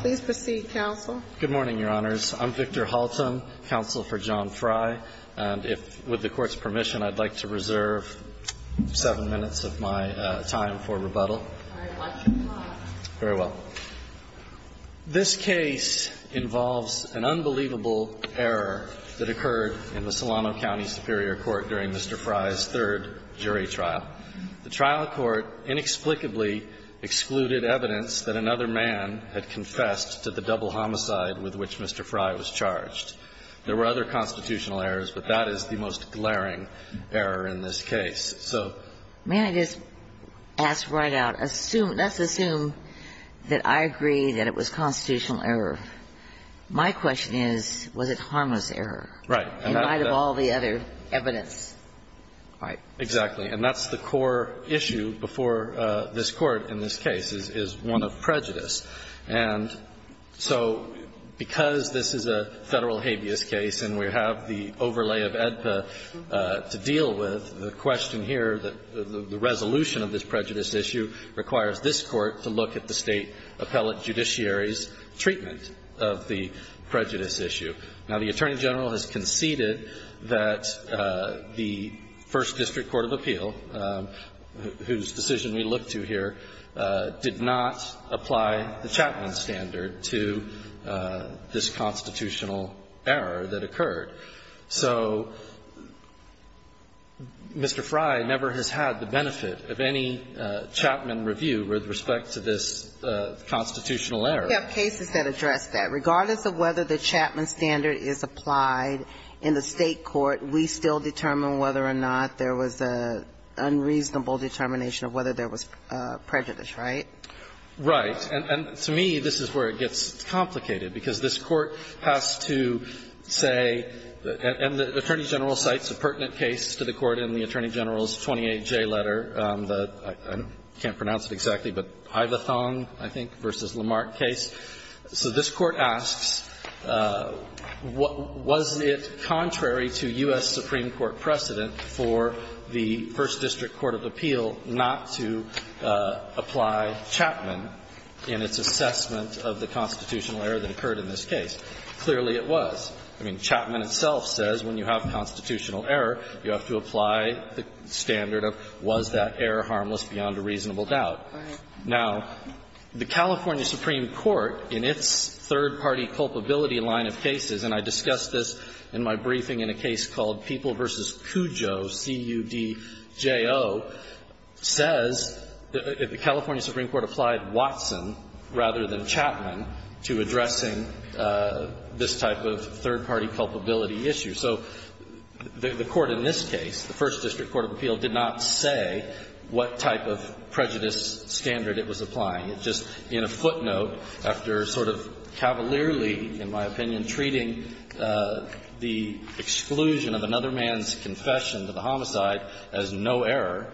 Please proceed, counsel. Good morning, Your Honors. I'm Victor Halton, counsel for John Fry. And if, with the Court's permission, I'd like to reserve seven minutes of my time for rebuttal. All right. Watch your clock. Very well. This case involves an unbelievable error that occurred in the Solano County Superior Court during Mr. Fry's third jury trial. The trial court inexplicably excluded evidence that another man had confessed to the double homicide with which Mr. Fry was charged. There were other constitutional errors, but that is the most glaring error in this case. So may I just ask right out, assume, let's assume that I agree that it was constitutional error. My question is, was it harmless error? Right. In light of all the other evidence. Right. Exactly. And that's the core issue before this Court in this case, is one of prejudice. And so because this is a Federal habeas case and we have the overlay of AEDPA to deal with, the question here, the resolution of this prejudice issue, requires this Court to look at the State appellate judiciary's treatment of the prejudice issue. Now, the Attorney General has conceded that the First District Court of Appeal, whose decision we look to here, did not apply the Chapman standard to this constitutional error that occurred. So Mr. Fry never has had the benefit of any Chapman review with respect to this constitutional error. We have cases that address that. Regardless of whether the Chapman standard is applied in the State court, we still determine whether or not there was an unreasonable determination of whether there was prejudice, right? Right. And to me, this is where it gets complicated, because this Court has to say, and the Attorney General cites a pertinent case to the Court in the Attorney General's 28J letter, the — I can't pronounce it exactly, but Ivathong, I think, v. Lamarck case. So this Court asks, was it contrary to U.S. Supreme Court precedent for the First District in its assessment of the constitutional error that occurred in this case? Clearly, it was. I mean, Chapman itself says when you have constitutional error, you have to apply the standard of was that error harmless beyond a reasonable doubt. Now, the California Supreme Court, in its third-party culpability line of cases — and I discussed this in my briefing in a case called People v. Cujo, C-U-D-J-O — says that the California Supreme Court applied Watson rather than Chapman to addressing this type of third-party culpability issue. So the Court in this case, the First District Court of Appeal, did not say what type of prejudice standard it was applying. It just, in a footnote, after sort of cavalierly, in my opinion, treating the exclusion of another man's confession to the homicide as no error,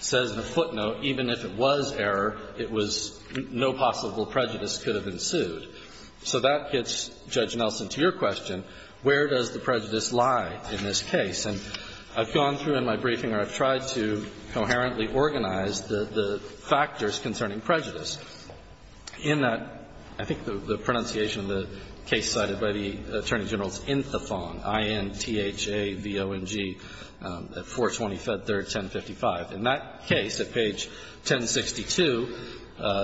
says in a footnote, even if it was error, it was — no possible prejudice could have ensued. So that gets Judge Nelson to your question, where does the prejudice lie in this case? And I've gone through in my briefing, or I've tried to coherently organize the factors concerning prejudice. In that, I think the pronunciation of the case cited by the Attorney General's office, I-N-T-H-A-V-O-N-G, at 420 Fed Third, 1055. In that case, at page 1062,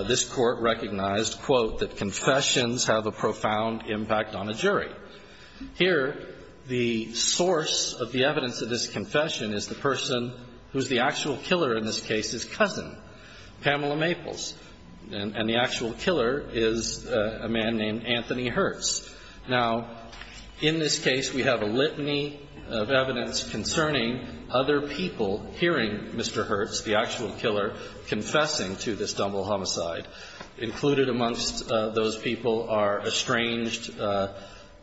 this Court recognized, quote, that confessions have a profound impact on a jury. Here, the source of the evidence of this confession is the person who's the actual killer in this case's cousin, Pamela Maples. And the actual killer is a man named Anthony Hertz. Now, in this case, we have a litany of evidence concerning other people hearing Mr. Hertz, the actual killer, confessing to this Dumbledore homicide. Included amongst those people are estranged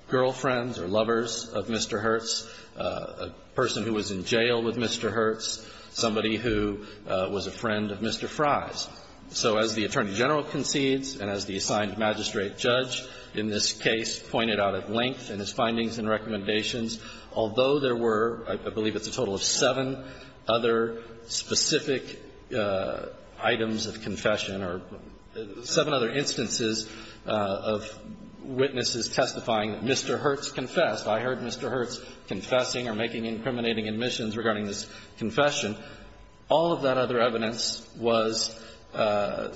girlfriends or lovers of Mr. Hertz, a person who was in jail with Mr. Hertz, somebody who was a friend of Mr. Fries. So as the Attorney General concedes, and as the assigned magistrate judge in this case pointed out at length in his findings and recommendations, although there were, I believe it's a total of seven other specific items of confession or seven other instances of witnesses testifying that Mr. Hertz confessed. I heard Mr. Hertz confessing or making incriminating admissions regarding this confession. All of that other evidence was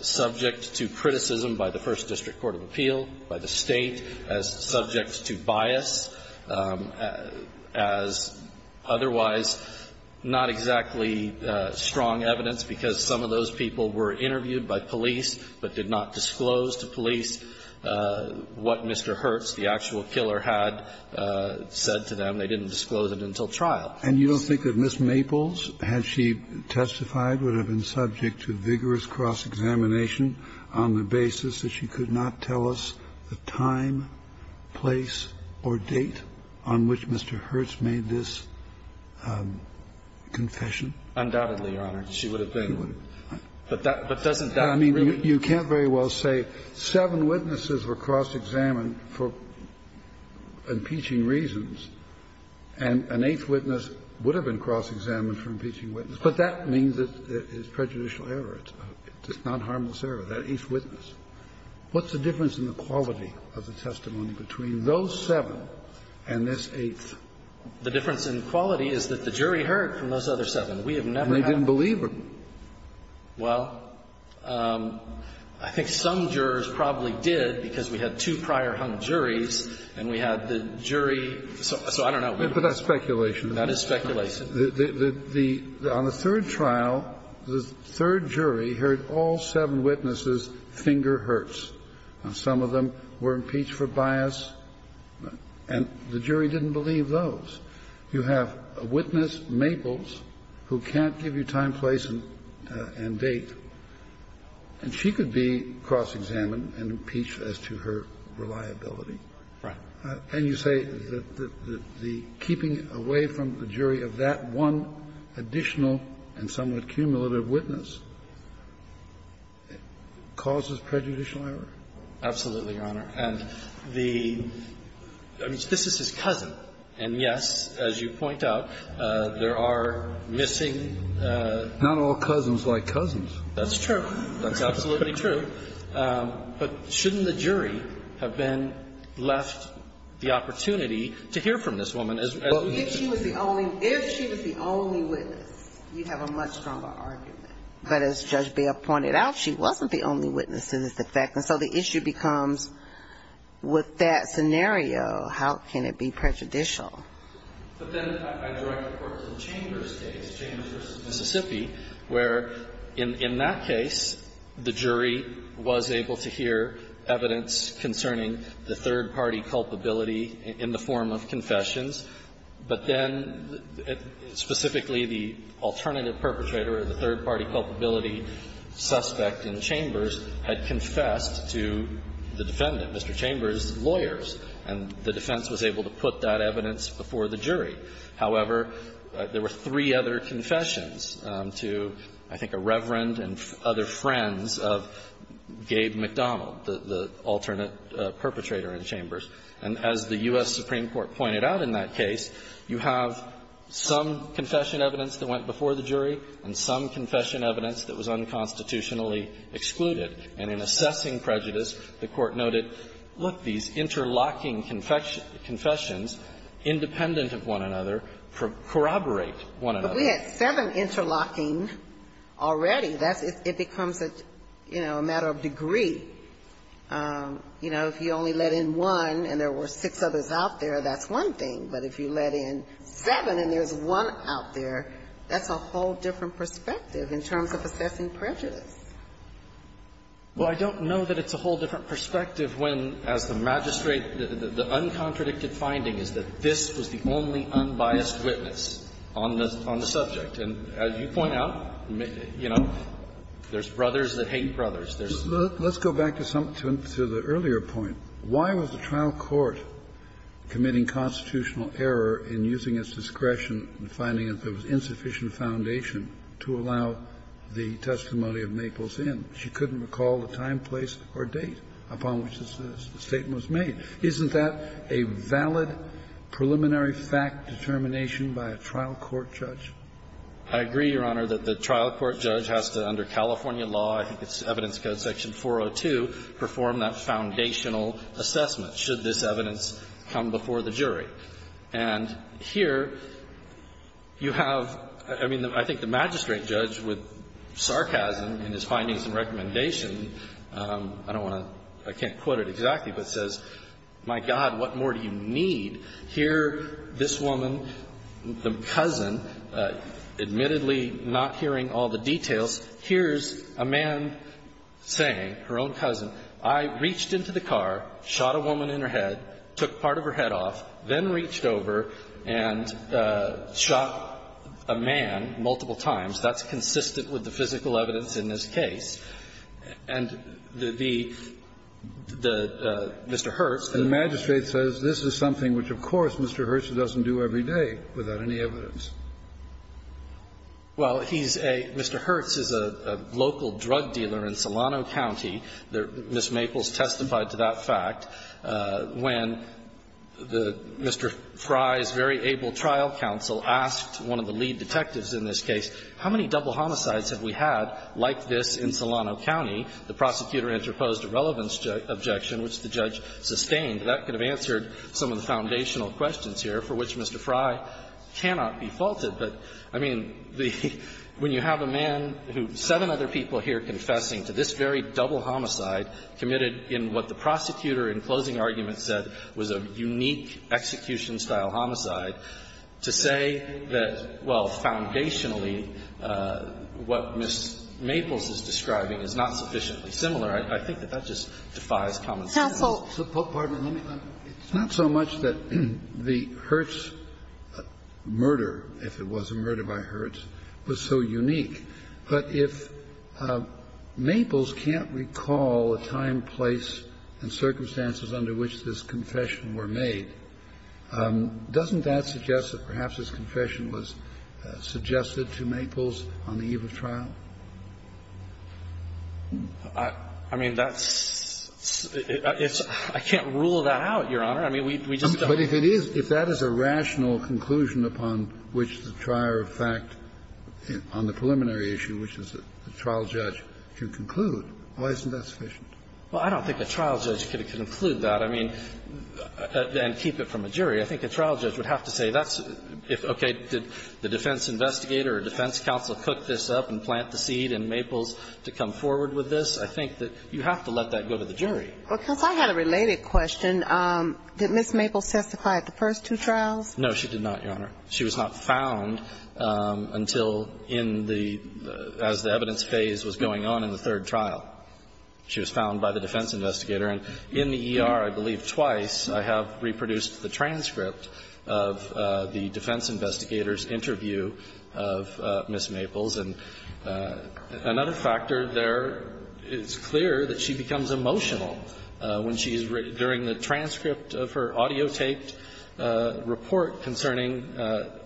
subject to criticism by the First District Court of Appeal, by the State, as subject to bias, as otherwise not exactly strong evidence, because some of those people were interviewed by police but did not disclose to police what Mr. Hertz, the actual killer, had said to them. They didn't disclose it until trial. And you don't think that Ms. Maples, had she testified, would have been subject to vigorous cross-examination on the basis that she could not tell us the time, place, or date on which Mr. Hertz made this confession? Undoubtedly, Your Honor. She would have been. But that doesn't really mean you can't very well say seven witnesses were cross-examined for impeaching reasons, and an eighth witness would have been cross-examined for impeaching a witness. But that means that it's prejudicial error. It's not harmless error, that eighth witness. What's the difference in the quality of the testimony between those seven and this eighth? The difference in quality is that the jury heard from those other seven. We have never had that. And they didn't believe him. Well, I think some jurors probably did, because we had two prior hung juries and we had the jury, so I don't know. But that's speculation. That is speculation. But the third trial, the third jury heard all seven witnesses finger Hertz. Some of them were impeached for bias, and the jury didn't believe those. You have a witness, Maples, who can't give you time, place, and date, and she could be cross-examined and impeached as to her reliability. Right. And you say that the keeping away from the jury of that one additional and somewhat cumulative witness causes prejudicial error? Absolutely, Your Honor. And the – I mean, this is his cousin, and, yes, as you point out, there are missing Not all cousins like cousins. That's true. That's absolutely true. But shouldn't the jury have then left the opportunity to hear from this woman as Well, if she was the only – if she was the only witness, you'd have a much stronger argument. But as Judge Beall pointed out, she wasn't the only witness to this effect, and so the issue becomes, with that scenario, how can it be prejudicial? But then I direct the court to the Chambers case, Chambers v. Mississippi, where, in that case, the jury was able to hear evidence concerning the third-party culpability in the form of confessions, but then, specifically, the alternative perpetrator or the third-party culpability suspect in Chambers had confessed to the defendant, Mr. Chambers' lawyers, and the defense was able to put that evidence before the jury. However, there were three other confessions to, I think, a reverend and other friends of Gabe MacDonald, the alternate perpetrator in Chambers. And as the U.S. Supreme Court pointed out in that case, you have some confession evidence that went before the jury and some confession evidence that was unconstitutionally excluded. And in assessing prejudice, the Court noted, look, these interlocking confessions, independent of one another, corroborate one another. Ginsburg. But we had seven interlocking already. That's the question. It becomes a, you know, a matter of degree. You know, if you only let in one and there were six others out there, that's one thing. But if you let in seven and there's one out there, that's a whole different perspective in terms of assessing prejudice. Well, I don't know that it's a whole different perspective when, as the magistrate said, the uncontradicted finding is that this was the only unbiased witness on the subject. And as you point out, you know, there's brothers that hate brothers. There's not. Kennedy. Let's go back to the earlier point. Why was the trial court committing constitutional error in using its discretion and finding that there was insufficient foundation to allow the testimony of Maples in? She couldn't recall the time, place or date upon which the statement was made. Isn't that a valid preliminary fact determination by a trial court judge? I agree, Your Honor, that the trial court judge has to, under California law, I think it's Evidence Code section 402, perform that foundational assessment, should this evidence come before the jury. And here you have – I mean, I think the magistrate judge, with sarcasm in his findings and recommendation, I don't want to – I can't quote it exactly, but says, my God, what more do you need? Here, this woman, the cousin, admittedly not hearing all the details, hears a man saying, her own cousin, I reached into the car, shot a woman in her head, took part of her head off, then reached over and shot a man multiple times. That's consistent with the physical evidence in this case. And the – the – Mr. Hertz, the magistrate says, this is something which, of course, Mr. Hertz doesn't do every day without any evidence. Well, he's a – Mr. Hertz is a local drug dealer in Solano County. Ms. Maples testified to that fact when the – Mr. Fry's very able trial counsel asked one of the lead detectives in this case, how many double homicides have we had like this in Solano County? The prosecutor interposed a relevance objection, which the judge sustained. That could have answered some of the foundational questions here, for which Mr. Fry cannot be faulted. But, I mean, the – when you have a man who – seven other people here confessing to this very double homicide committed in what the prosecutor in closing argument said was a unique execution-style homicide, to say that, well, foundationally what Ms. Maples is describing is not sufficiently similar, I think that that just defies common sense. Kagan. Kassel. So, pardon me, let me – it's not so much that the Hertz murder, if it was a murder by Hertz, was so unique, but if Maples can't recall a time, place, and circumstances under which this confession were made, doesn't that suggest that perhaps this confession was suggested to Maples on the eve of trial? I mean, that's – I can't rule that out, Your Honor. I mean, we just don't – But if it is – if that is a rational conclusion upon which the trier of fact on the preliminary issue, which is the trial judge, can conclude, why isn't that sufficient? Well, I don't think a trial judge could conclude that. I mean – and keep it from a jury. I think a trial judge would have to say that's – if, okay, did the defense investigator or defense counsel cook this up and plant the seed in Maples to come forward with this? I think that you have to let that go to the jury. Well, counsel, I had a related question. Did Ms. Maples testify at the first two trials? No, she did not, Your Honor. She was not found until in the – as the evidence phase was going on in the third trial. She was found by the defense investigator. And in the ER, I believe twice, I have reproduced the transcript of the defense investigator's interview of Ms. Maples. And another factor there, it's clear that she becomes emotional when she is – during the transcript of her audio-taped report concerning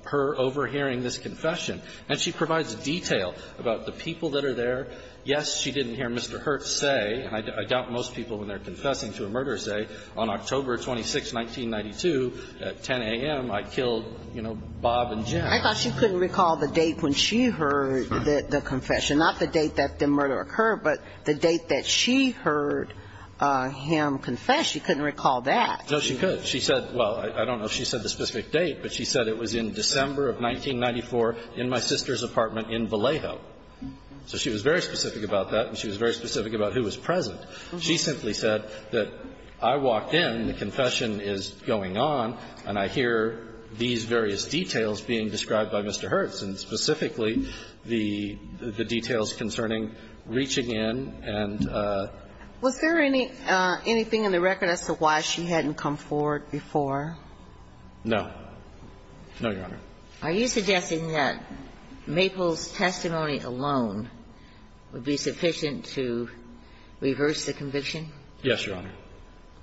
her overhearing this confession. And she provides detail about the people that are there. Yes, she didn't hear Mr. Hirt say, and I doubt most people when they're confessing to a murder say, on October 26, 1992, at 10 a.m., I killed, you know, Bob and Jim. I thought she couldn't recall the date when she heard the confession. Not the date that the murder occurred, but the date that she heard him confess. She couldn't recall that. No, she could. She said – well, I don't know if she said the specific date, but she said it was in December of 1994 in my sister's apartment in Vallejo. So she was very specific about that, and she was very specific about who was present. She simply said that I walked in, the confession is going on, and I hear these various details being described by Mr. Hirt, and specifically the details concerning reaching in and the – Was there anything in the record as to why she hadn't come forward before? No. No, Your Honor. Are you suggesting that Maple's testimony alone would be sufficient to reverse the conviction? Yes, Your Honor.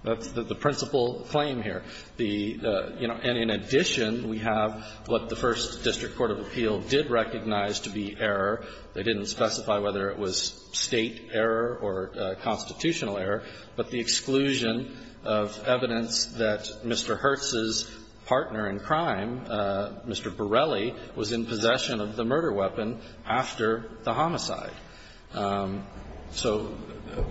That's the principal claim here. The – you know, and in addition, we have what the First District Court of Appeal did recognize to be error. They didn't specify whether it was State error or constitutional error, but the exclusion of evidence that Mr. Hirt's partner in crime, Mr. Borelli, was in possession of the murder weapon after the homicide. So,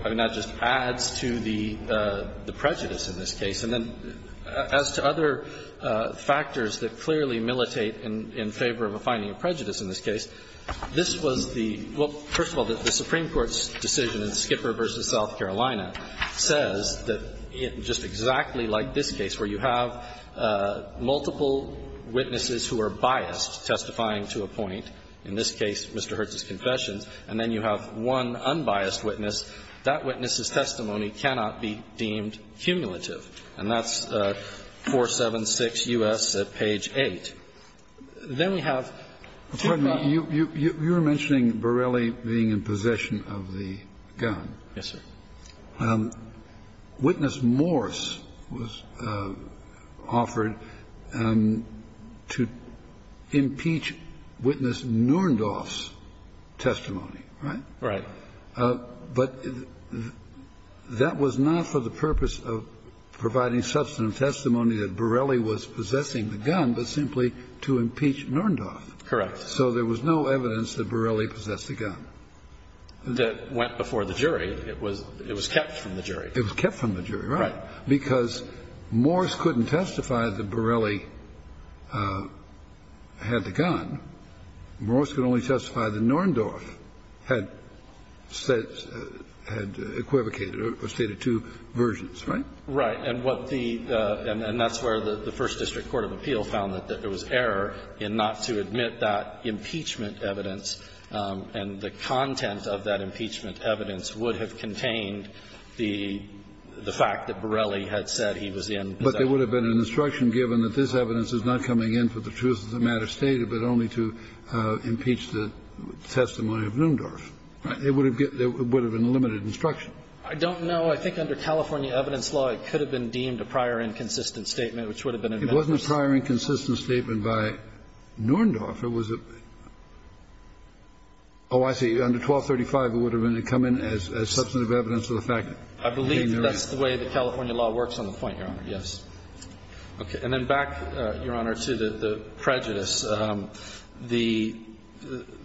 I mean, that just adds to the prejudice in this case. And then as to other factors that clearly militate in favor of a finding of prejudice in this case, this was the – well, first of all, the Supreme Court's decision in Skipper v. South Carolina says that just exactly like this case, where you have multiple witnesses who are biased, testifying to a point, in this case Mr. Hirt's confession, and then you have one unbiased witness, that witness's testimony cannot be deemed cumulative. And that's 476 U.S. at page 8. Then we have – Kennedy. You're mentioning Borelli being in possession of the gun. Yes, sir. Witness Morse was offered to impeach witness Nurendorf's testimony, right? Right. But that was not for the purpose of providing substantive testimony that Borelli was possessing the gun, but simply to impeach Nurendorf. Correct. So there was no evidence that Borelli possessed the gun. That went before the jury. It was kept from the jury. It was kept from the jury, right, because Morse couldn't testify that Borelli had the gun. Morse could only testify that Nurendorf had equivocated or stated two versions, right? Right. And what the – and that's where the First District Court of Appeal found that there was error in not to admit that impeachment evidence, and the content of that impeachment evidence would have contained the fact that Borelli had said he was in possession. But there would have been an instruction given that this evidence is not coming in for the truth of the matter stated, but only to impeach the testimony of Nurendorf. There would have been limited instruction. I don't know. I think under California evidence law, it could have been deemed a prior inconsistent statement, which would have been admitted. It wasn't a prior inconsistent statement by Nurendorf. It was a – oh, I see. Under 1235, it would have come in as substantive evidence of the fact that he knew. I believe that's the way the California law works on the point, Your Honor. Yes. Okay. And then back, Your Honor, to the prejudice. The –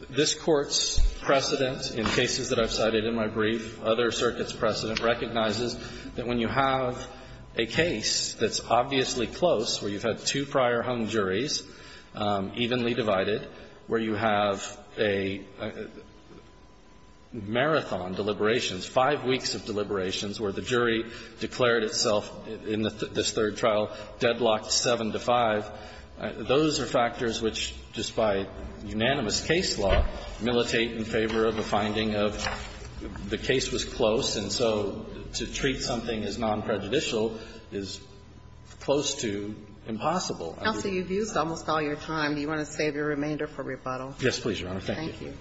this Court's precedent in cases that I've cited in my brief, other circuits' precedent, recognizes that when you have a case that's obviously close, where you've had two prior hung juries, evenly divided, where you have a marathon deliberations, five weeks of deliberations, where the jury declared itself in this third trial deadlocked 7 to 5, those are factors which, despite unanimous case law, militate in favor of a finding of the case was close. And so to treat something as non-prejudicial is close to impossible. Counsel, you've used almost all your time. Do you want to save your remainder for rebuttal? Yes, please, Your Honor. Thank you. Thank you.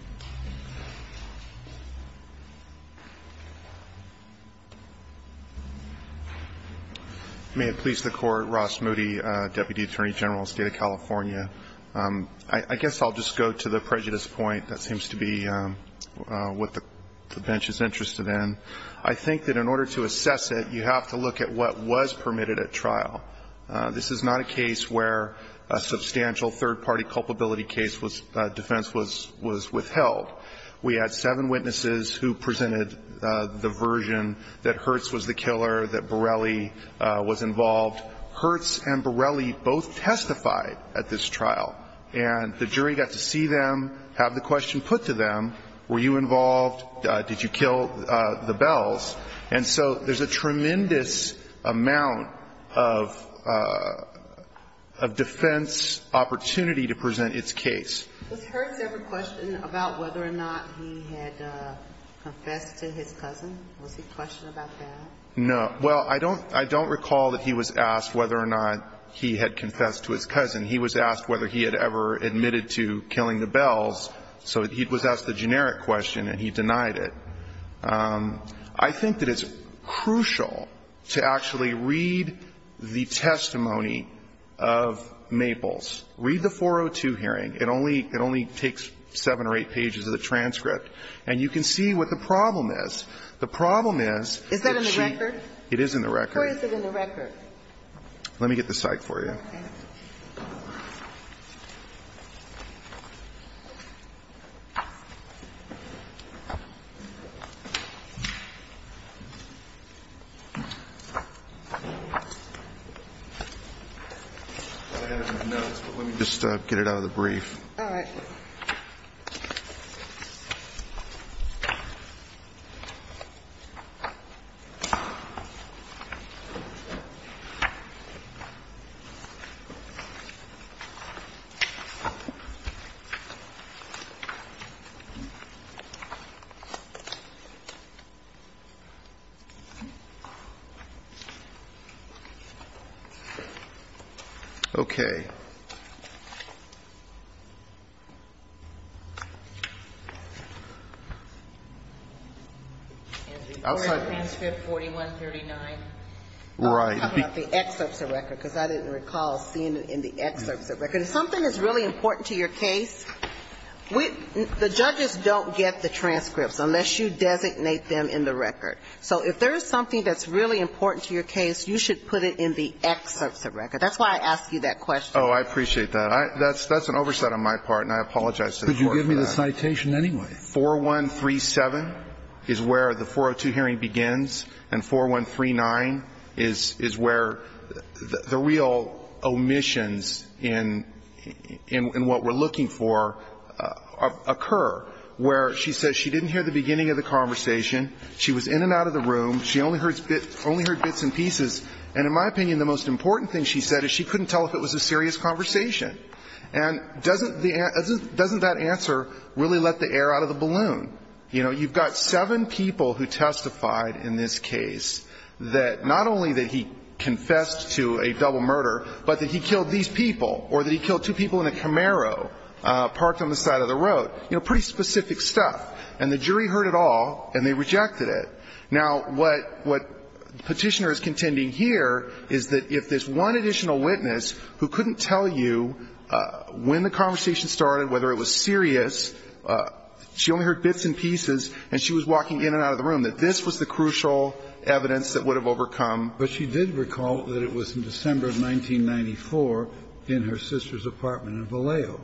May it please the Court, Ross Moody, Deputy Attorney General, State of California. I guess I'll just go to the prejudice point. That seems to be what the bench is interested in. I think that in order to assess it, you have to look at what was permitted at trial. This is not a case where a substantial third-party culpability case was – defense was withheld. We had seven witnesses who presented the version that Hertz was the killer, that Borelli was involved. Hertz and Borelli both testified at this trial, and the jury got to see them, have the question put to them, were you involved, did you kill the Bells? And so there's a tremendous amount of defense opportunity to present its case. Was Hertz ever questioned about whether or not he had confessed to his cousin? Was he questioned about that? No. Well, I don't recall that he was asked whether or not he had confessed to his cousin. He was asked whether he had ever admitted to killing the Bells, so he was asked the generic question, and he denied it. I think that it's crucial to actually read the testimony of Maples. Read the 402 hearing. It only takes seven or eight pages of the transcript, and you can see what the problem is. The problem is that she – It is in the record. Where is it in the record? Let me get the psych for you. Okay. I have it in the notes, but let me just get it out of the brief. All right. Okay. And before the transcript 4139, I'm talking about the excerpts of record, because I didn't recall seeing it in the excerpts of record. If something is really important to your case, we – the judges don't get the transcripts unless you designate them in the record. So if there is something that's really important to your case, you should put it in the excerpts of record. That's why I asked you that question. Oh, I appreciate that. That's an oversight on my part, and I apologize to the Court for that. Could you give me the citation anyway? 4137 is where the 402 hearing begins, and 4139 is where the real omissions in what we're looking for occur, where she says she didn't hear the beginning of the conversation, she was in and out of the room, she only heard bits and pieces. And in my opinion, the most important thing she said is she couldn't tell if it was a serious conversation. And doesn't the – doesn't that answer really let the air out of the balloon? You know, you've got seven people who testified in this case that not only that he confessed to a double murder, but that he killed these people, or that he killed two people in a Camaro parked on the side of the road. You know, pretty specific stuff. And the jury heard it all, and they rejected it. Now, what Petitioner is contending here is that if there's one additional witness who couldn't tell you when the conversation started, whether it was serious, she only heard bits and pieces, and she was walking in and out of the room, that this was the crucial evidence that would have overcome. But she did recall that it was in December of 1994 in her sister's apartment in Vallejo.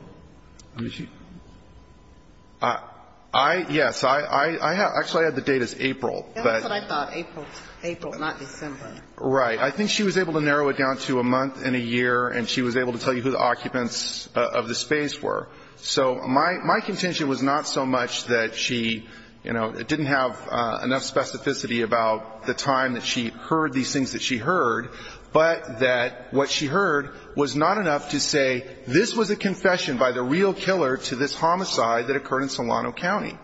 I mean, she – I – yes. I – I have – actually, I had the date as April, but – That's what I thought, April – April, not December. Right. I think she was able to narrow it down to a month and a year, and she was able to tell you who the occupants of the space were. So my – my contention was not so much that she, you know, didn't have enough specificity about the time that she heard these things that she heard, but that what she heard was not enough to say this was a confession by the real killer to this homicide that occurred in Solano County.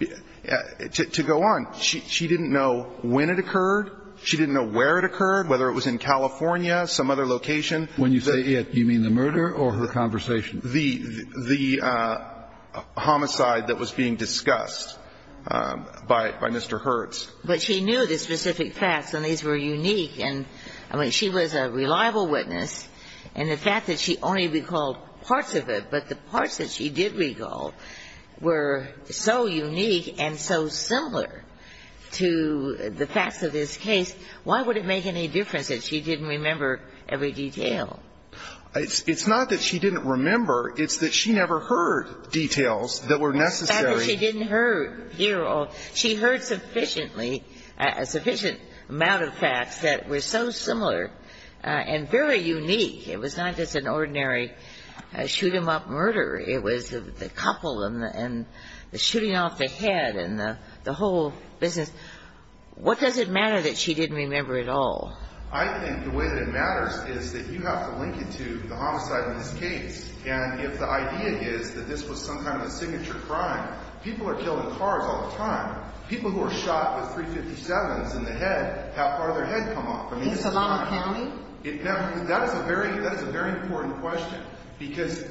To go on, she didn't know when it occurred, she didn't know where it occurred, whether it was in California, some other location. When you say it, you mean the murder or her conversation? The – the homicide that was being discussed by – by Mr. Hertz. But she knew the specific facts, and these were unique. And, I mean, she was a reliable witness. And the fact that she only recalled parts of it, but the parts that she did recall were so unique and so similar to the facts of this case, why would it make any difference that she didn't remember every detail? It's not that she didn't remember. It's that she never heard details that were necessary. The fact that she didn't hear – she heard sufficiently – a sufficient amount of facts that were so similar and very unique. It was not just an ordinary shoot-him-up murder. It was the couple and the shooting off the head and the whole business. What does it matter that she didn't remember it all? I think the way that it matters is that you have to link it to the homicide in this case. And if the idea is that this was some kind of a signature crime, people are killing cars all the time. People who are shot with .357s in the head have part of their head come off. In Solano County? That is a very – that is a very important question. Because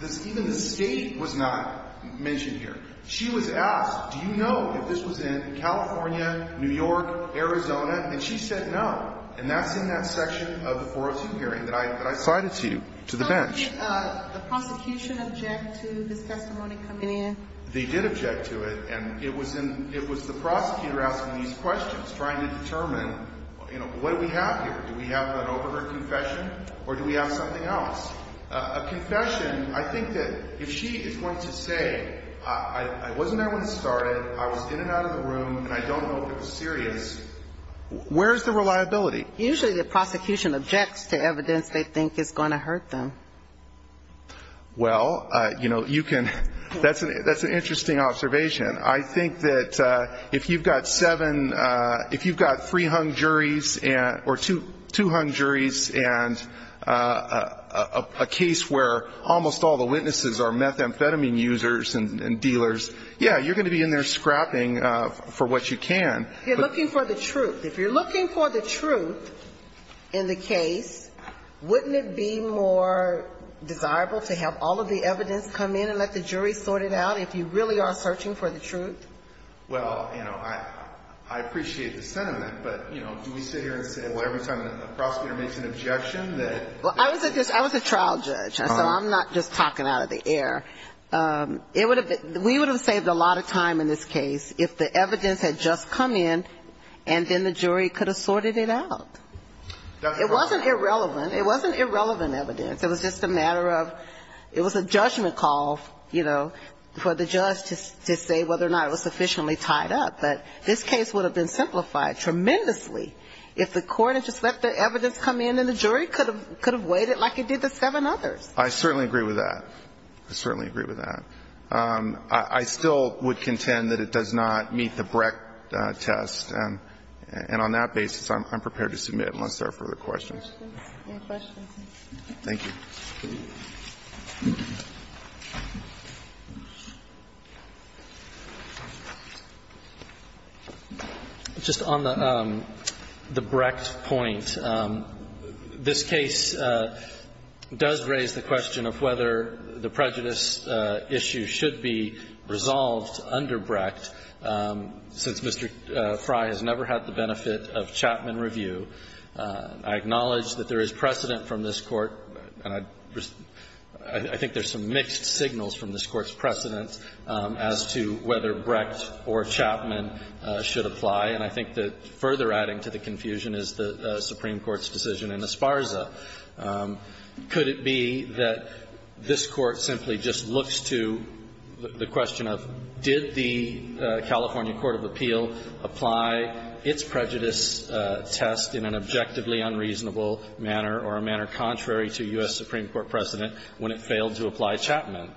this – even the state was not mentioned here. She was asked, do you know if this was in California, New York, Arizona? And she said no. And that's in that section of the 402 hearing that I cited to you, to the bench. Did the prosecution object to this testimony coming in? They did object to it. And it was in – it was the prosecutor asking these questions, trying to determine, you know, what do we have here? Do we have an overheard confession? Or do we have something else? A confession – I think that if she is going to say, I wasn't there when it started, I was in and out of the room, and I don't know what was serious, where is the reliability? Usually the prosecution objects to evidence they think is going to hurt them. Well, you know, you can – that's an interesting observation. I think that if you've got seven – if you've got three hung juries, or two hung juries, and a case where almost all the witnesses are methamphetamine users and dealers, yeah, you're going to be in there scrapping for what you can. You're looking for the truth. If you're looking for the truth in the case, wouldn't it be more desirable to have all of the evidence come in and let the jury sort it out if you really are searching for the truth? Well, you know, I appreciate the sentiment, but, you know, do we sit here and say, well, every time the prosecutor makes an objection that – Well, I was a trial judge. So I'm not just talking out of the air. We would have saved a lot of time in this case if the evidence had just come in, and then the jury could have sorted it out. It wasn't irrelevant. It wasn't irrelevant evidence. It was just a matter of – it was a judgment call, you know, for the judge to say whether or not it was sufficiently tied up. But this case would have been simplified tremendously if the court had just let the evidence come in and the jury could have waited like it did the seven others. I certainly agree with that. I still would contend that it does not meet the Brecht test. And on that basis, I'm prepared to submit unless there are further questions. Any questions? Thank you. Just on the Brecht point, this case does raise the question of whether the prejudice issue should be resolved under Brecht since Mr. Frey has never had the benefit of Chapman review. I acknowledge that there is precedent from this Court, and I think there's some mixed signals from this Court's precedent as to whether Brecht or Chapman should apply. And I think that further adding to the confusion is the Supreme Court's decision in Esparza. Could it be that this Court simply just looks to the question of did the California court of appeal apply its prejudice test in an objectively unreasonable manner or a manner contrary to U.S. Supreme Court precedent when it failed to apply Chapman?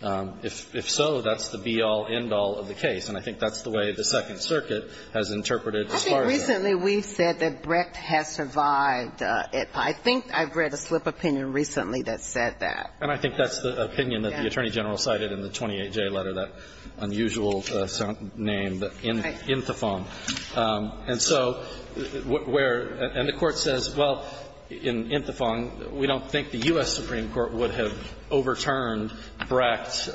If so, that's the be-all, end-all of the case. And I think that's the way the Second Circuit has interpreted Esparza. I think recently we've said that Brecht has survived. I think I've read a slip of opinion recently that said that. And I think that's the opinion that the Attorney General cited in the 28-J letter, that unusual name, Inthefong. And so where, and the Court says, well, in Inthefong, we don't think the U.S. Supreme Court would have overturned Brecht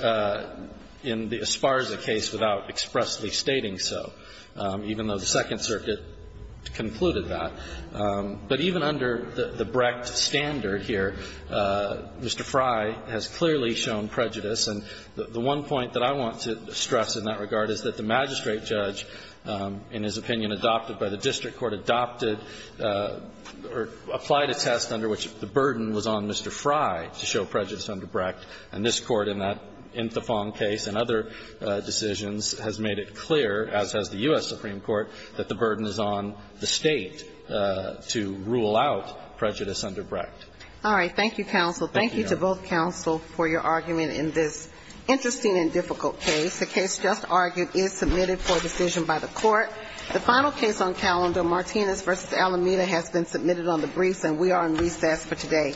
in the Esparza case without expressly stating so, even though the Second Circuit concluded that. But even under the Brecht standard here, Mr. Frey has clearly shown prejudice. And the one point that I want to stress in that regard is that the magistrate judge, in his opinion, adopted by the district court, adopted or applied a test under which the burden was on Mr. Frey to show prejudice under Brecht. And this Court in that Inthefong case and other decisions has made it clear, as has the U.S. Supreme Court, that the burden is on the State to rule out prejudice under Brecht. All right. Thank you, counsel. Thank you to both counsel for your argument in this interesting and difficult case. The case just argued is submitted for decision by the Court. The final case on calendar, Martinez v. Alameda, has been submitted on the briefs, and we are in recess for today.